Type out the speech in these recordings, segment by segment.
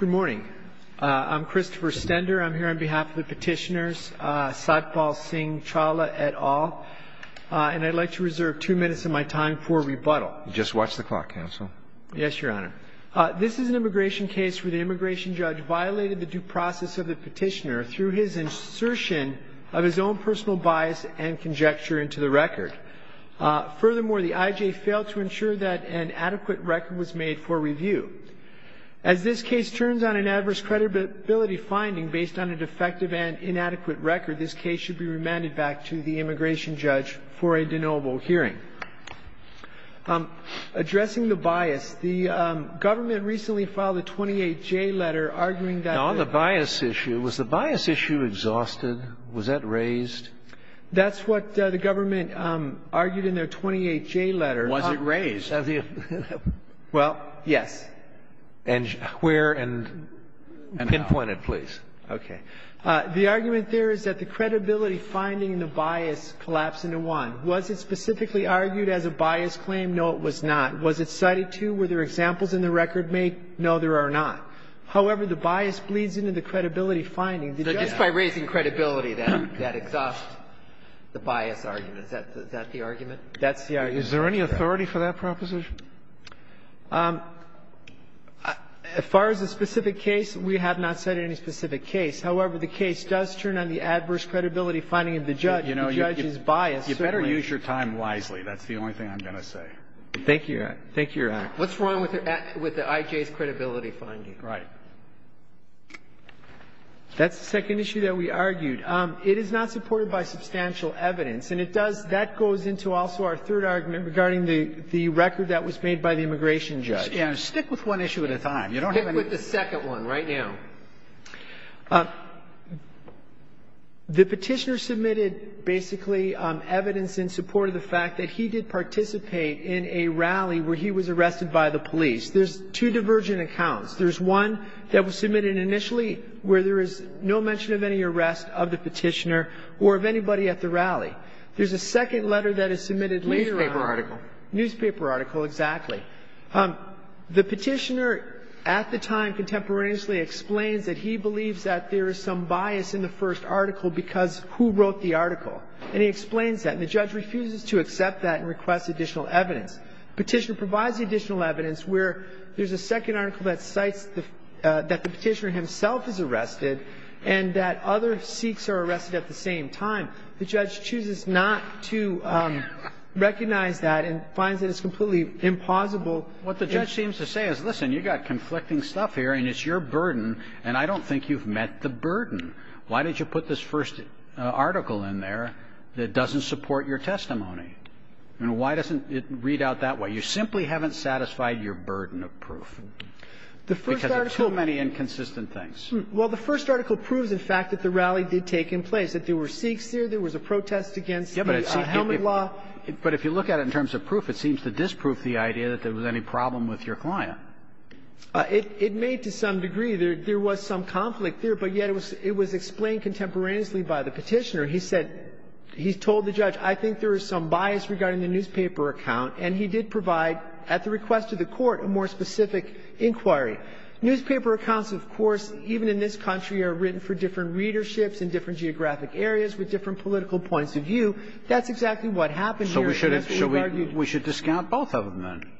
Good morning. I'm Christopher Stender. I'm here on behalf of the petitioners, Satpal Singh Chawla et al., and I'd like to reserve two minutes of my time for rebuttal. Just watch the clock, counsel. Yes, Your Honor. This is an immigration case where the immigration judge violated the due process of the petitioner through his insertion of his own personal bias and conjecture into the record. Furthermore, the I.J. failed to ensure that an adequate record was made for the case. If the case turns on an adverse credibility finding based on a defective and inadequate record, this case should be remanded back to the immigration judge for a de novo hearing. Addressing the bias, the government recently filed a 28-J letter arguing that the — Now, on the bias issue, was the bias issue exhausted? Was that raised? That's what the government argued in their 28-J letter. Was it raised? Well, yes. And where and pinpoint it, please. Okay. The argument there is that the credibility finding and the bias collapse into one. Was it specifically argued as a bias claim? No, it was not. Was it cited, too? Were there examples in the record made? No, there are not. However, the bias bleeds into the credibility finding. So just by raising credibility, that exhausts the bias argument. Is that the argument? That's the argument. Is there any authority for that proposition? As far as the specific case, we have not cited any specific case. However, the case does turn on the adverse credibility finding of the judge. The judge is biased. You better use your time wisely. That's the only thing I'm going to say. Thank you, Your Honor. Thank you, Your Honor. What's wrong with the IJ's credibility finding? Right. That's the second issue that we argued. It is not supported by substantial evidence. And it does, that goes into also our third argument regarding the record that was made by the immigration judge. Yeah, stick with one issue at a time. Stick with the second one right now. The petitioner submitted basically evidence in support of the fact that he did participate in a rally where he was arrested by the police. There's two divergent accounts. There's one that was submitted initially where there is no mention of any arrest of the petitioner or of anybody at the rally. There's a second letter that is submitted later on. Newspaper article. Newspaper article, exactly. The petitioner at the time contemporaneously explains that he believes that there is some bias in the first article because who wrote the article. And he explains that. And the judge refuses to accept that and requests additional evidence. The petitioner provides the additional evidence where there's a second article that cites that the petitioner himself is arrested and that other Sikhs are arrested at the same time. The judge chooses not to recognize that and finds that it's completely impossible. What the judge seems to say is, listen, you've got conflicting stuff here and it's your burden and I don't think you've met the burden. Why did you put this first article in there that doesn't support your testimony? And why doesn't it read out that way? You simply haven't satisfied your burden of proof because there are too many inconsistent things. Well, the first article proves, in fact, that the rally did take place, that there were Sikhs there, there was a protest against the helmet law. But if you look at it in terms of proof, it seems to disprove the idea that there was any problem with your client. It made to some degree there was some conflict there, but yet it was explained contemporaneously by the petitioner. He said, he told the judge, I think there is some bias regarding the newspaper account, and he did provide at the request of the Court a more specific inquiry. Newspaper accounts, of course, even in this country, are written for different readerships in different geographic areas with different political points of view. That's exactly what happened here. So we should discount both of them then?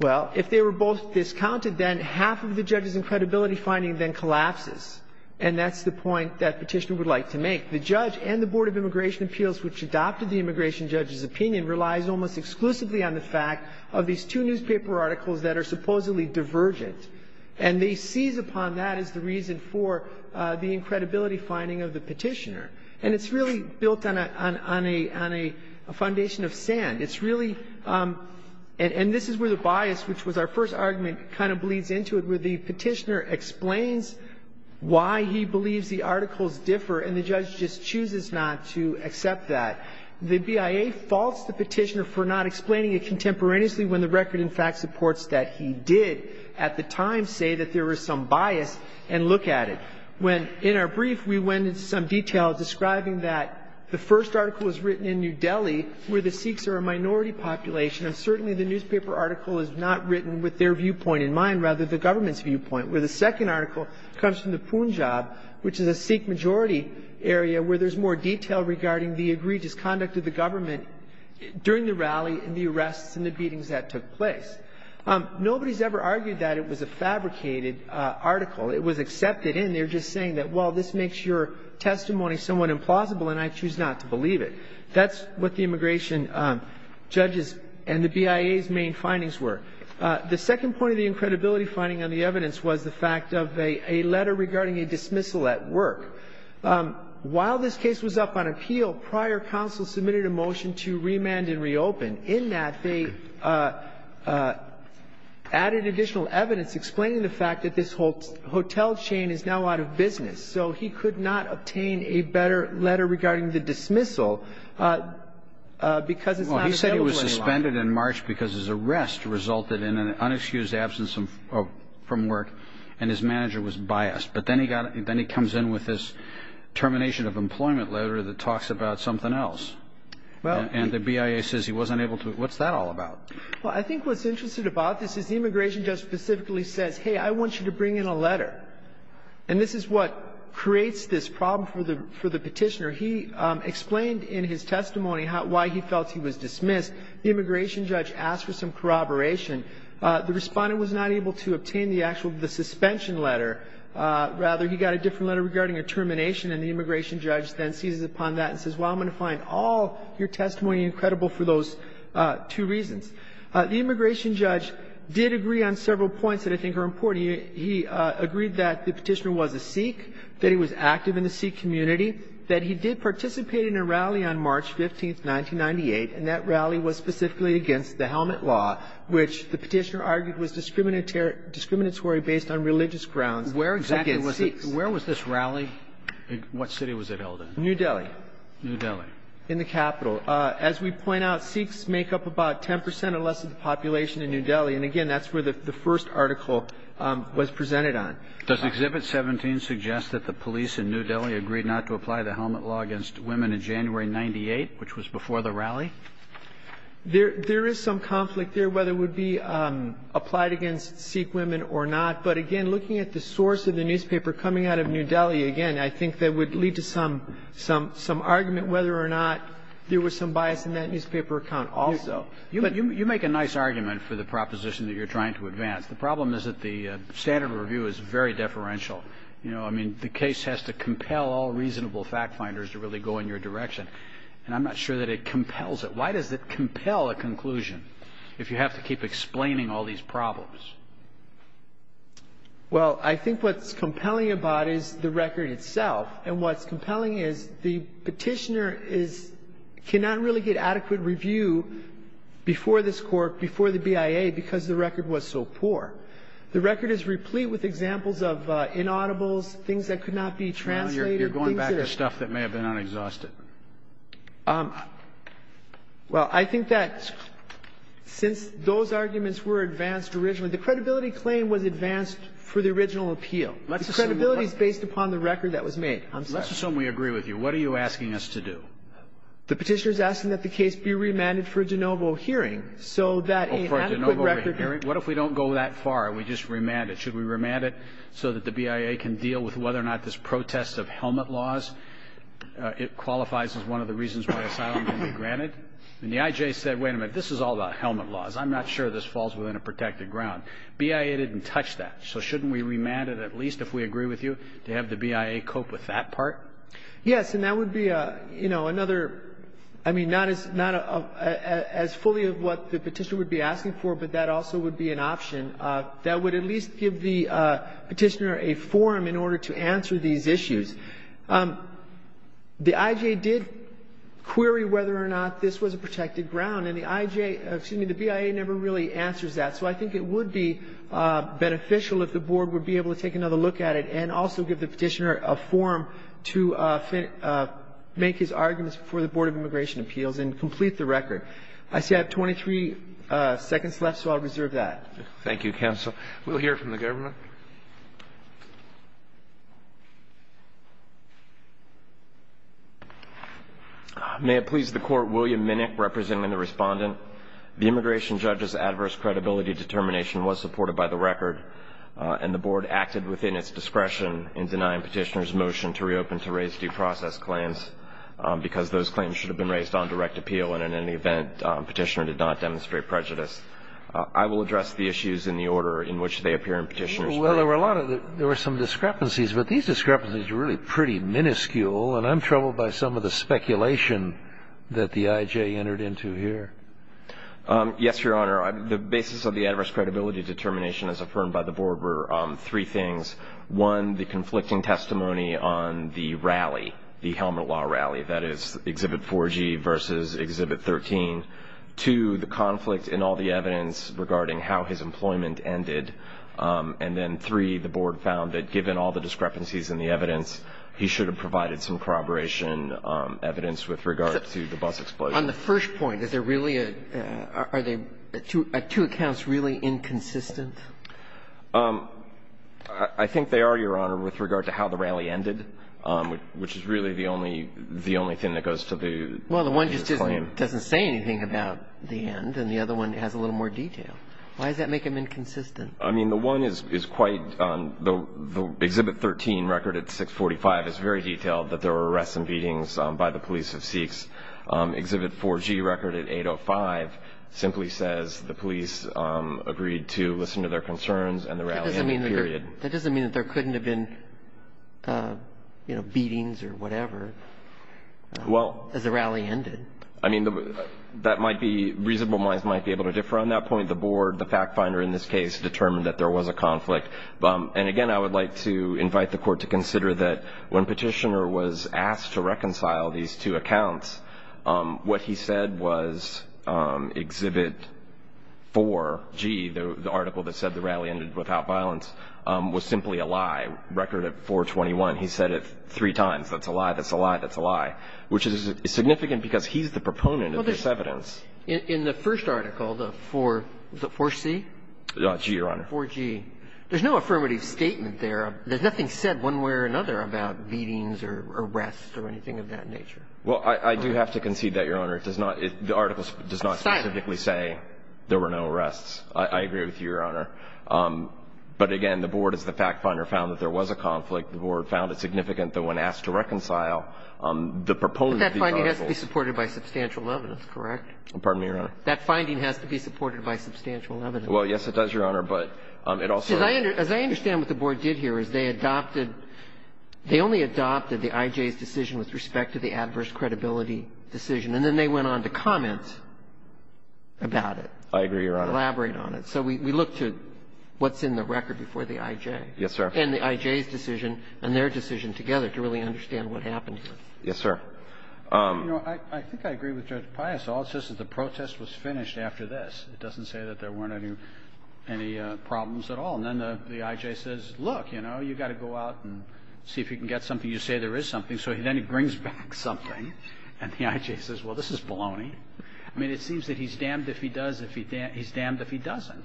Well, if they were both discounted, then half of the judge's credibility finding then collapses, and that's the point that petitioner would like to make. The judge and the Board of Immigration Appeals, which adopted the immigration judge's opinion, relies almost exclusively on the fact of these two newspaper articles that are supposedly divergent. And they seize upon that as the reason for the incredibility finding of the petitioner. And it's really built on a foundation of sand. It's really — and this is where the bias, which was our first argument, kind of bleeds into it, where the petitioner explains why he believes the articles differ, and the judge just chooses not to accept that. The BIA faults the petitioner for not explaining it contemporaneously when the record, in fact, supports that he did at the time say that there was some bias and look at it. When, in our brief, we went into some detail describing that the first article is written in New Delhi, where the Sikhs are a minority population, and certainly the newspaper article is not written with their viewpoint in mind, rather the government's viewpoint. Where the second article comes from the Punjab, which is a Sikh-majority area, where there's more detail regarding the egregious conduct of the government during the rally and the arrests and the beatings that took place. Nobody's ever argued that it was a fabricated article. It was accepted, and they're just saying that, well, this makes your testimony somewhat implausible, and I choose not to believe it. That's what the immigration judge's and the BIA's main findings were. The second point of the incredibility finding on the evidence was the fact of a letter regarding a dismissal at work. While this case was up on appeal, prior counsel submitted a motion to remand and reopen. In that, they added additional evidence explaining the fact that this hotel chain is now out of business. So he could not obtain a better letter regarding the dismissal because it's not available any longer. It ended in March because his arrest resulted in an unexcused absence from work, and his manager was biased. But then he comes in with this termination of employment letter that talks about something else. And the BIA says he wasn't able to, what's that all about? Well, I think what's interesting about this is the immigration judge specifically says, hey, I want you to bring in a letter. And this is what creates this problem for the petitioner. He explained in his testimony why he felt he was dismissed. The immigration judge asked for some corroboration. The respondent was not able to obtain the actual, the suspension letter. Rather, he got a different letter regarding a termination, and the immigration judge then seizes upon that and says, well, I'm going to find all your testimony incredible for those two reasons. The immigration judge did agree on several points that I think are important. He agreed that the petitioner was a Sikh, that he was active in the Sikh community, that he did participate in a rally on March 15, 1998, and that rally was specifically against the helmet law, which the petitioner argued was discriminatory based on religious grounds against Sikhs. Where was this rally? What city was it held in? New Delhi. New Delhi. In the capital. As we point out, Sikhs make up about 10 percent or less of the population in New Delhi. And again, that's where the first article was presented on. Does Exhibit 17 suggest that the police in New Delhi agreed not to apply the helmet law against women in January 98, which was before the rally? There is some conflict there whether it would be applied against Sikh women or not. But again, looking at the source of the newspaper coming out of New Delhi, again, I think that would lead to some argument whether or not there was some bias in that newspaper account also. You make a nice argument for the proposition that you're trying to advance. The problem is that the standard of review is very deferential. You know, I mean, the case has to compel all reasonable fact finders to really go in your direction. And I'm not sure that it compels it. Why does it compel a conclusion if you have to keep explaining all these problems? Well, I think what's compelling about it is the record itself. And what's compelling is the petitioner cannot really get adequate review before this court, before the BIA, because the record was so poor. The record is replete with examples of inaudibles, things that could not be translated. You're going back to stuff that may have been unexhausted. Well, I think that since those arguments were advanced originally, the credibility claim was advanced for the original appeal. The credibility is based upon the record that was made. Let's assume we agree with you. What are you asking us to do? The petitioner is asking that the case be remanded for a de novo hearing. So that an adequate record of the hearing. What if we don't go that far and we just remand it? Should we remand it so that the BIA can deal with whether or not this protest of helmet laws qualifies as one of the reasons why asylum can be granted? And the I.J. said, wait a minute, this is all about helmet laws. I'm not sure this falls within a protected ground. BIA didn't touch that. So shouldn't we remand it at least, if we agree with you, to have the BIA cope with that part? Yes. And that would be, you know, another, I mean, not as fully of what the petitioner would be asking for, but that also would be an option. That would at least give the petitioner a forum in order to answer these issues. The I.J. did query whether or not this was a protected ground. And the I.J., excuse me, the BIA never really answers that. So I think it would be beneficial if the Board would be able to take another look at it and also give the petitioner a forum to make his arguments before the Board of Immigration Appeals and complete the record. I see I have 23 seconds left, so I'll reserve that. Thank you, Counsel. We'll hear from the Governor. May it please the Court, William Minnick representing the Respondent. The immigration judge's adverse credibility determination was supported by the record and the Board acted within its discretion in denying petitioners' motion to reopen to raise due process claims because those claims should have been raised on direct appeal and in any event, petitioner did not demonstrate prejudice. I will address the issues in the order in which they appear in petitioner's paper. Well, there were a lot of, there were some discrepancies, but these discrepancies are really pretty minuscule and I'm troubled by some of the speculation that the I.J. entered into here. Yes, Your Honor. The basis of the adverse credibility determination as affirmed by the Board were three things. One, the conflicting testimony on the rally, the Helmut Law rally, that is Exhibit 4G versus Exhibit 13. Two, the conflict in all the evidence regarding how his employment ended. And then three, the Board found that given all the discrepancies in the evidence, he should have provided some corroboration evidence with regard to the bus explosion. On the first point, is there really a, are they, are two accounts really inconsistent? I think they are, Your Honor, with regard to how the rally ended, which is really the only, the only thing that goes to the plaintiff's claim. Well, the one just doesn't say anything about the end and the other one has a little more detail. Why does that make them inconsistent? I mean, the one is quite, the Exhibit 13 record at 645 is very detailed that there is a conflict, but the Exhibit 4G record at 805 simply says the police agreed to listen to their concerns and the rally ended, period. That doesn't mean that there couldn't have been, you know, beatings or whatever as the rally ended. Well, I mean, that might be, reasonable minds might be able to differ on that point. The Board, the fact finder in this case, determined that there was a conflict. And again, I would like to invite the Court to consider that when Petitioner was asked to reconcile these two accounts, what he said was Exhibit 4G, the article that said the rally ended without violence, was simply a lie, record at 421. He said it three times, that's a lie, that's a lie, that's a lie, which is significant because he's the proponent of this evidence. In the first article, the 4C? 4G, Your Honor. 4G. There's no affirmative statement there. There's nothing said one way or another about beatings or arrests or anything of that nature. Well, I do have to concede that, Your Honor. It does not – the article does not specifically say there were no arrests. I agree with you, Your Honor. But again, the Board, as the fact finder, found that there was a conflict. The Board found it significant that when asked to reconcile the proponent of these articles – But that finding has to be supported by substantial evidence, correct? Pardon me, Your Honor? That finding has to be supported by substantial evidence. Well, yes, it does, Your Honor, but it also – As I understand what the Board did here is they adopted – they only adopted the I.J.'s decision with respect to the adverse credibility decision, and then they went on to comment about it. I agree, Your Honor. Elaborate on it. So we look to what's in the record before the I.J. Yes, sir. And the I.J.'s decision and their decision together to really understand what happened here. Yes, sir. You know, I think I agree with Judge Pias. All it says is the protest was finished after this. It doesn't say that there weren't any problems at all. And then the I.J. says, look, you know, you've got to go out and see if you can get something. You say there is something. So then he brings back something, and the I.J. says, well, this is baloney. I mean, it seems that he's damned if he does – he's damned if he doesn't.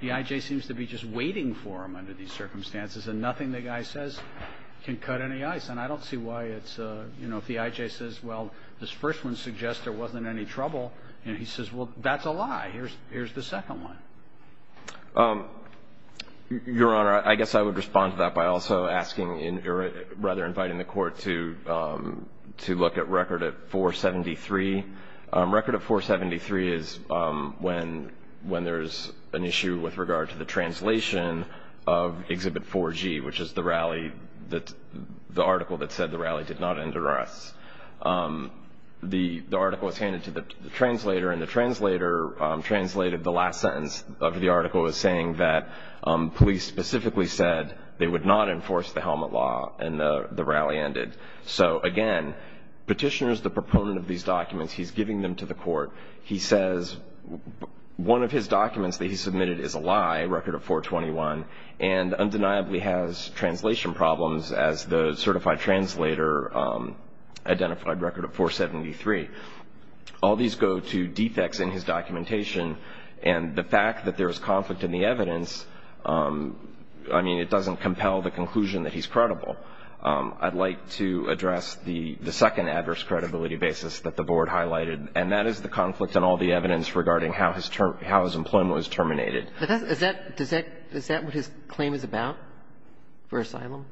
The I.J. seems to be just waiting for him under these circumstances, and nothing the guy says can cut any ice. And I don't see why it's – you know, if the I.J. says, well, this first one suggests there wasn't any trouble, and he says, well, that's a lie. Here's the second one. Your Honor, I guess I would respond to that by also asking – or rather inviting the Court to look at Record at 473. Record at 473 is when there's an issue with regard to the translation of Exhibit 4G, which is the rally that – the article that said the rally did not end arrests. The article was handed to the translator, and the translator translated the last sentence of the article as saying that police specifically said they would not enforce the helmet law and the rally ended. So again, Petitioner is the proponent of these documents. He's giving them to the Court. He says one of his documents that he submitted is a lie, Record of 421, and undeniably has a certified translator, identified Record of 473. All these go to defects in his documentation, and the fact that there is conflict in the evidence, I mean, it doesn't compel the conclusion that he's credible. I'd like to address the second adverse credibility basis that the Board highlighted, and that is the conflict in all the evidence regarding how his employment was terminated. Is that what his claim is about for asylum?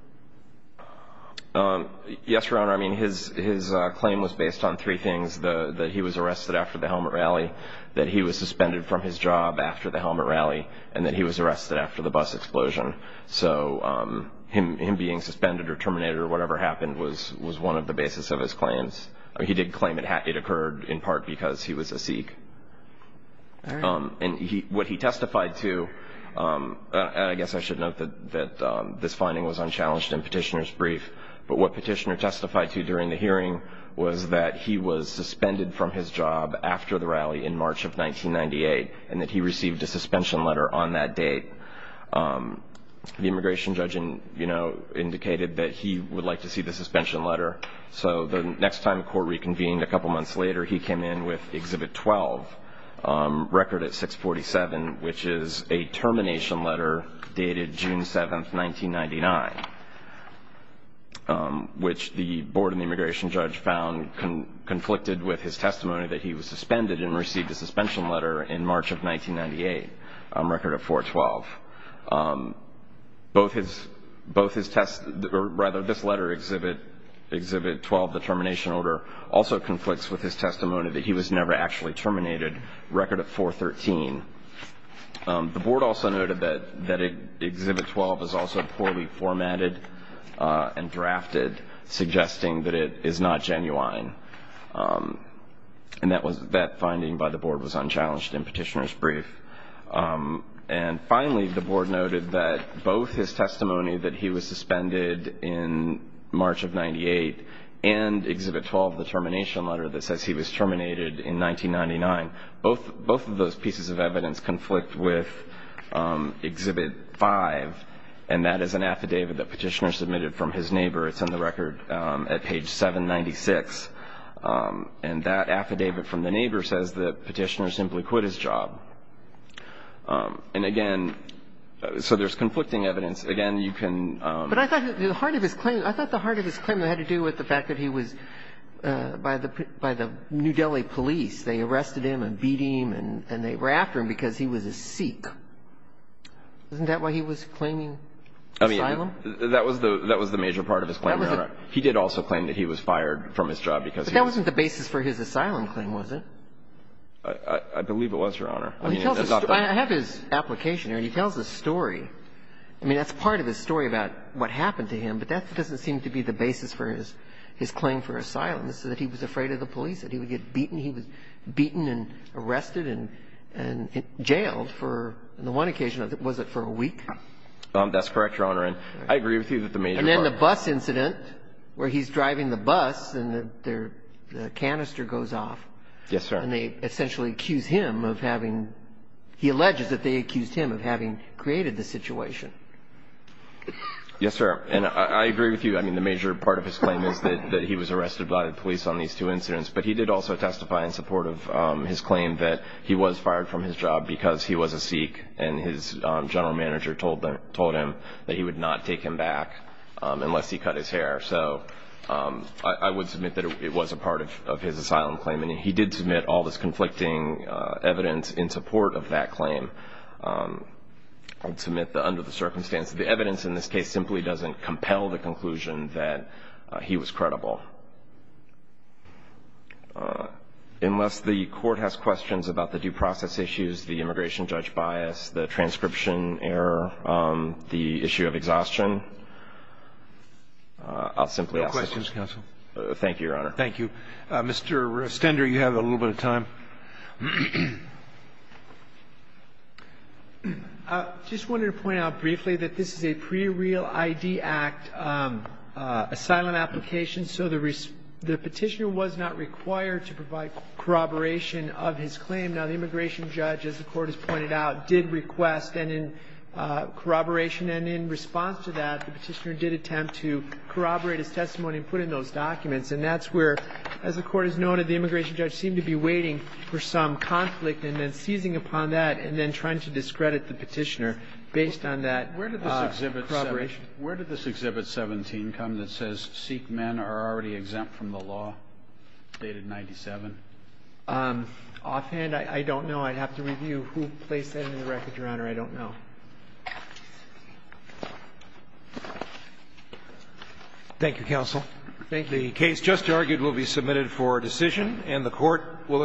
Yes, Your Honor. I mean, his claim was based on three things, that he was arrested after the helmet rally, that he was suspended from his job after the helmet rally, and that he was arrested after the bus explosion. So him being suspended or terminated or whatever happened was one of the basis of his claims. He did claim it occurred in part because he was a Sikh. All right. And what he testified to, and I guess I should note that this finding was unchallenged in Petitioner's brief, but what Petitioner testified to during the hearing was that he was suspended from his job after the rally in March of 1998, and that he received a suspension letter on that date. The immigration judge indicated that he would like to see the suspension letter, so the record at 647, which is a termination letter dated June 7th, 1999, which the Board and the immigration judge found conflicted with his testimony that he was suspended and received a suspension letter in March of 1998, a record of 412. Both his tests, or rather this letter, Exhibit 12, the termination order, also conflicts with his testimony that he was never actually terminated, record of 413. The Board also noted that Exhibit 12 is also poorly formatted and drafted, suggesting that it is not genuine. And that finding by the Board was unchallenged in Petitioner's brief. And finally, the Board noted that both his testimony that he was suspended in March of 1998 and Exhibit 12, the termination letter that says he was terminated in 1999, both of those pieces of evidence conflict with Exhibit 5, and that is an affidavit that Petitioner submitted from his neighbor. It's on the record at page 796. And that affidavit from the neighbor says that Petitioner simply quit his job. And again, so there's conflicting evidence. Again, you can ---- But I thought the heart of his claim had to do with the fact that he was by the New Delhi police. They arrested him and beat him, and they were after him because he was a Sikh. Isn't that why he was claiming asylum? I mean, that was the major part of his claim, Your Honor. He did also claim that he was fired from his job because he was ---- But that wasn't the basis for his asylum claim, was it? I believe it was, Your Honor. I have his application here, and he tells a story. I mean, that's part of his story about what happened to him, but that doesn't seem to be the basis for his claim for asylum, is that he was afraid of the police, that he would get beaten. He was beaten and arrested and jailed for, on the one occasion, was it for a week? That's correct, Your Honor. And I agree with you that the major part ---- And then the bus incident where he's driving the bus and the canister goes off. Yes, sir. And they essentially accuse him of having ---- he alleges that they accused him of having created the situation. Yes, sir. And I agree with you. I mean, the major part of his claim is that he was arrested by the police on these two incidents, but he did also testify in support of his claim that he was fired from his job because he was a Sikh and his general manager told him that he would not take him back unless he cut his hair. So I would submit that it was a part of his asylum claim. And he did submit all this conflicting evidence in support of that claim. I'd submit that under the circumstance, the evidence in this case simply doesn't compel the conclusion that he was credible. Unless the Court has questions about the due process issues, the immigration judge bias, the transcription error, the issue of exhaustion, I'll simply ask those. No questions, Counsel. Thank you, Your Honor. Thank you. Mr. Stender, you have a little bit of time. I just wanted to point out briefly that this is a pre-real ID Act asylum application, so the petitioner was not required to provide corroboration of his claim. Now, the immigration judge, as the Court has pointed out, did request corroboration. And in response to that, the petitioner did attempt to corroborate his testimony and put in those documents. And that's where, as the Court has noted, the immigration judge seemed to be waiting for some conflict and then seizing upon that and then trying to discredit the petitioner based on that corroboration. Where did this Exhibit 17 come that says Sikh men are already exempt from the law dated 97? Offhand, I don't know. I'd have to review who placed that in the record, Your Honor. I don't know. Thank you, Counsel. Thank you. The case just argued will be submitted for decision, and the Court will adjourn.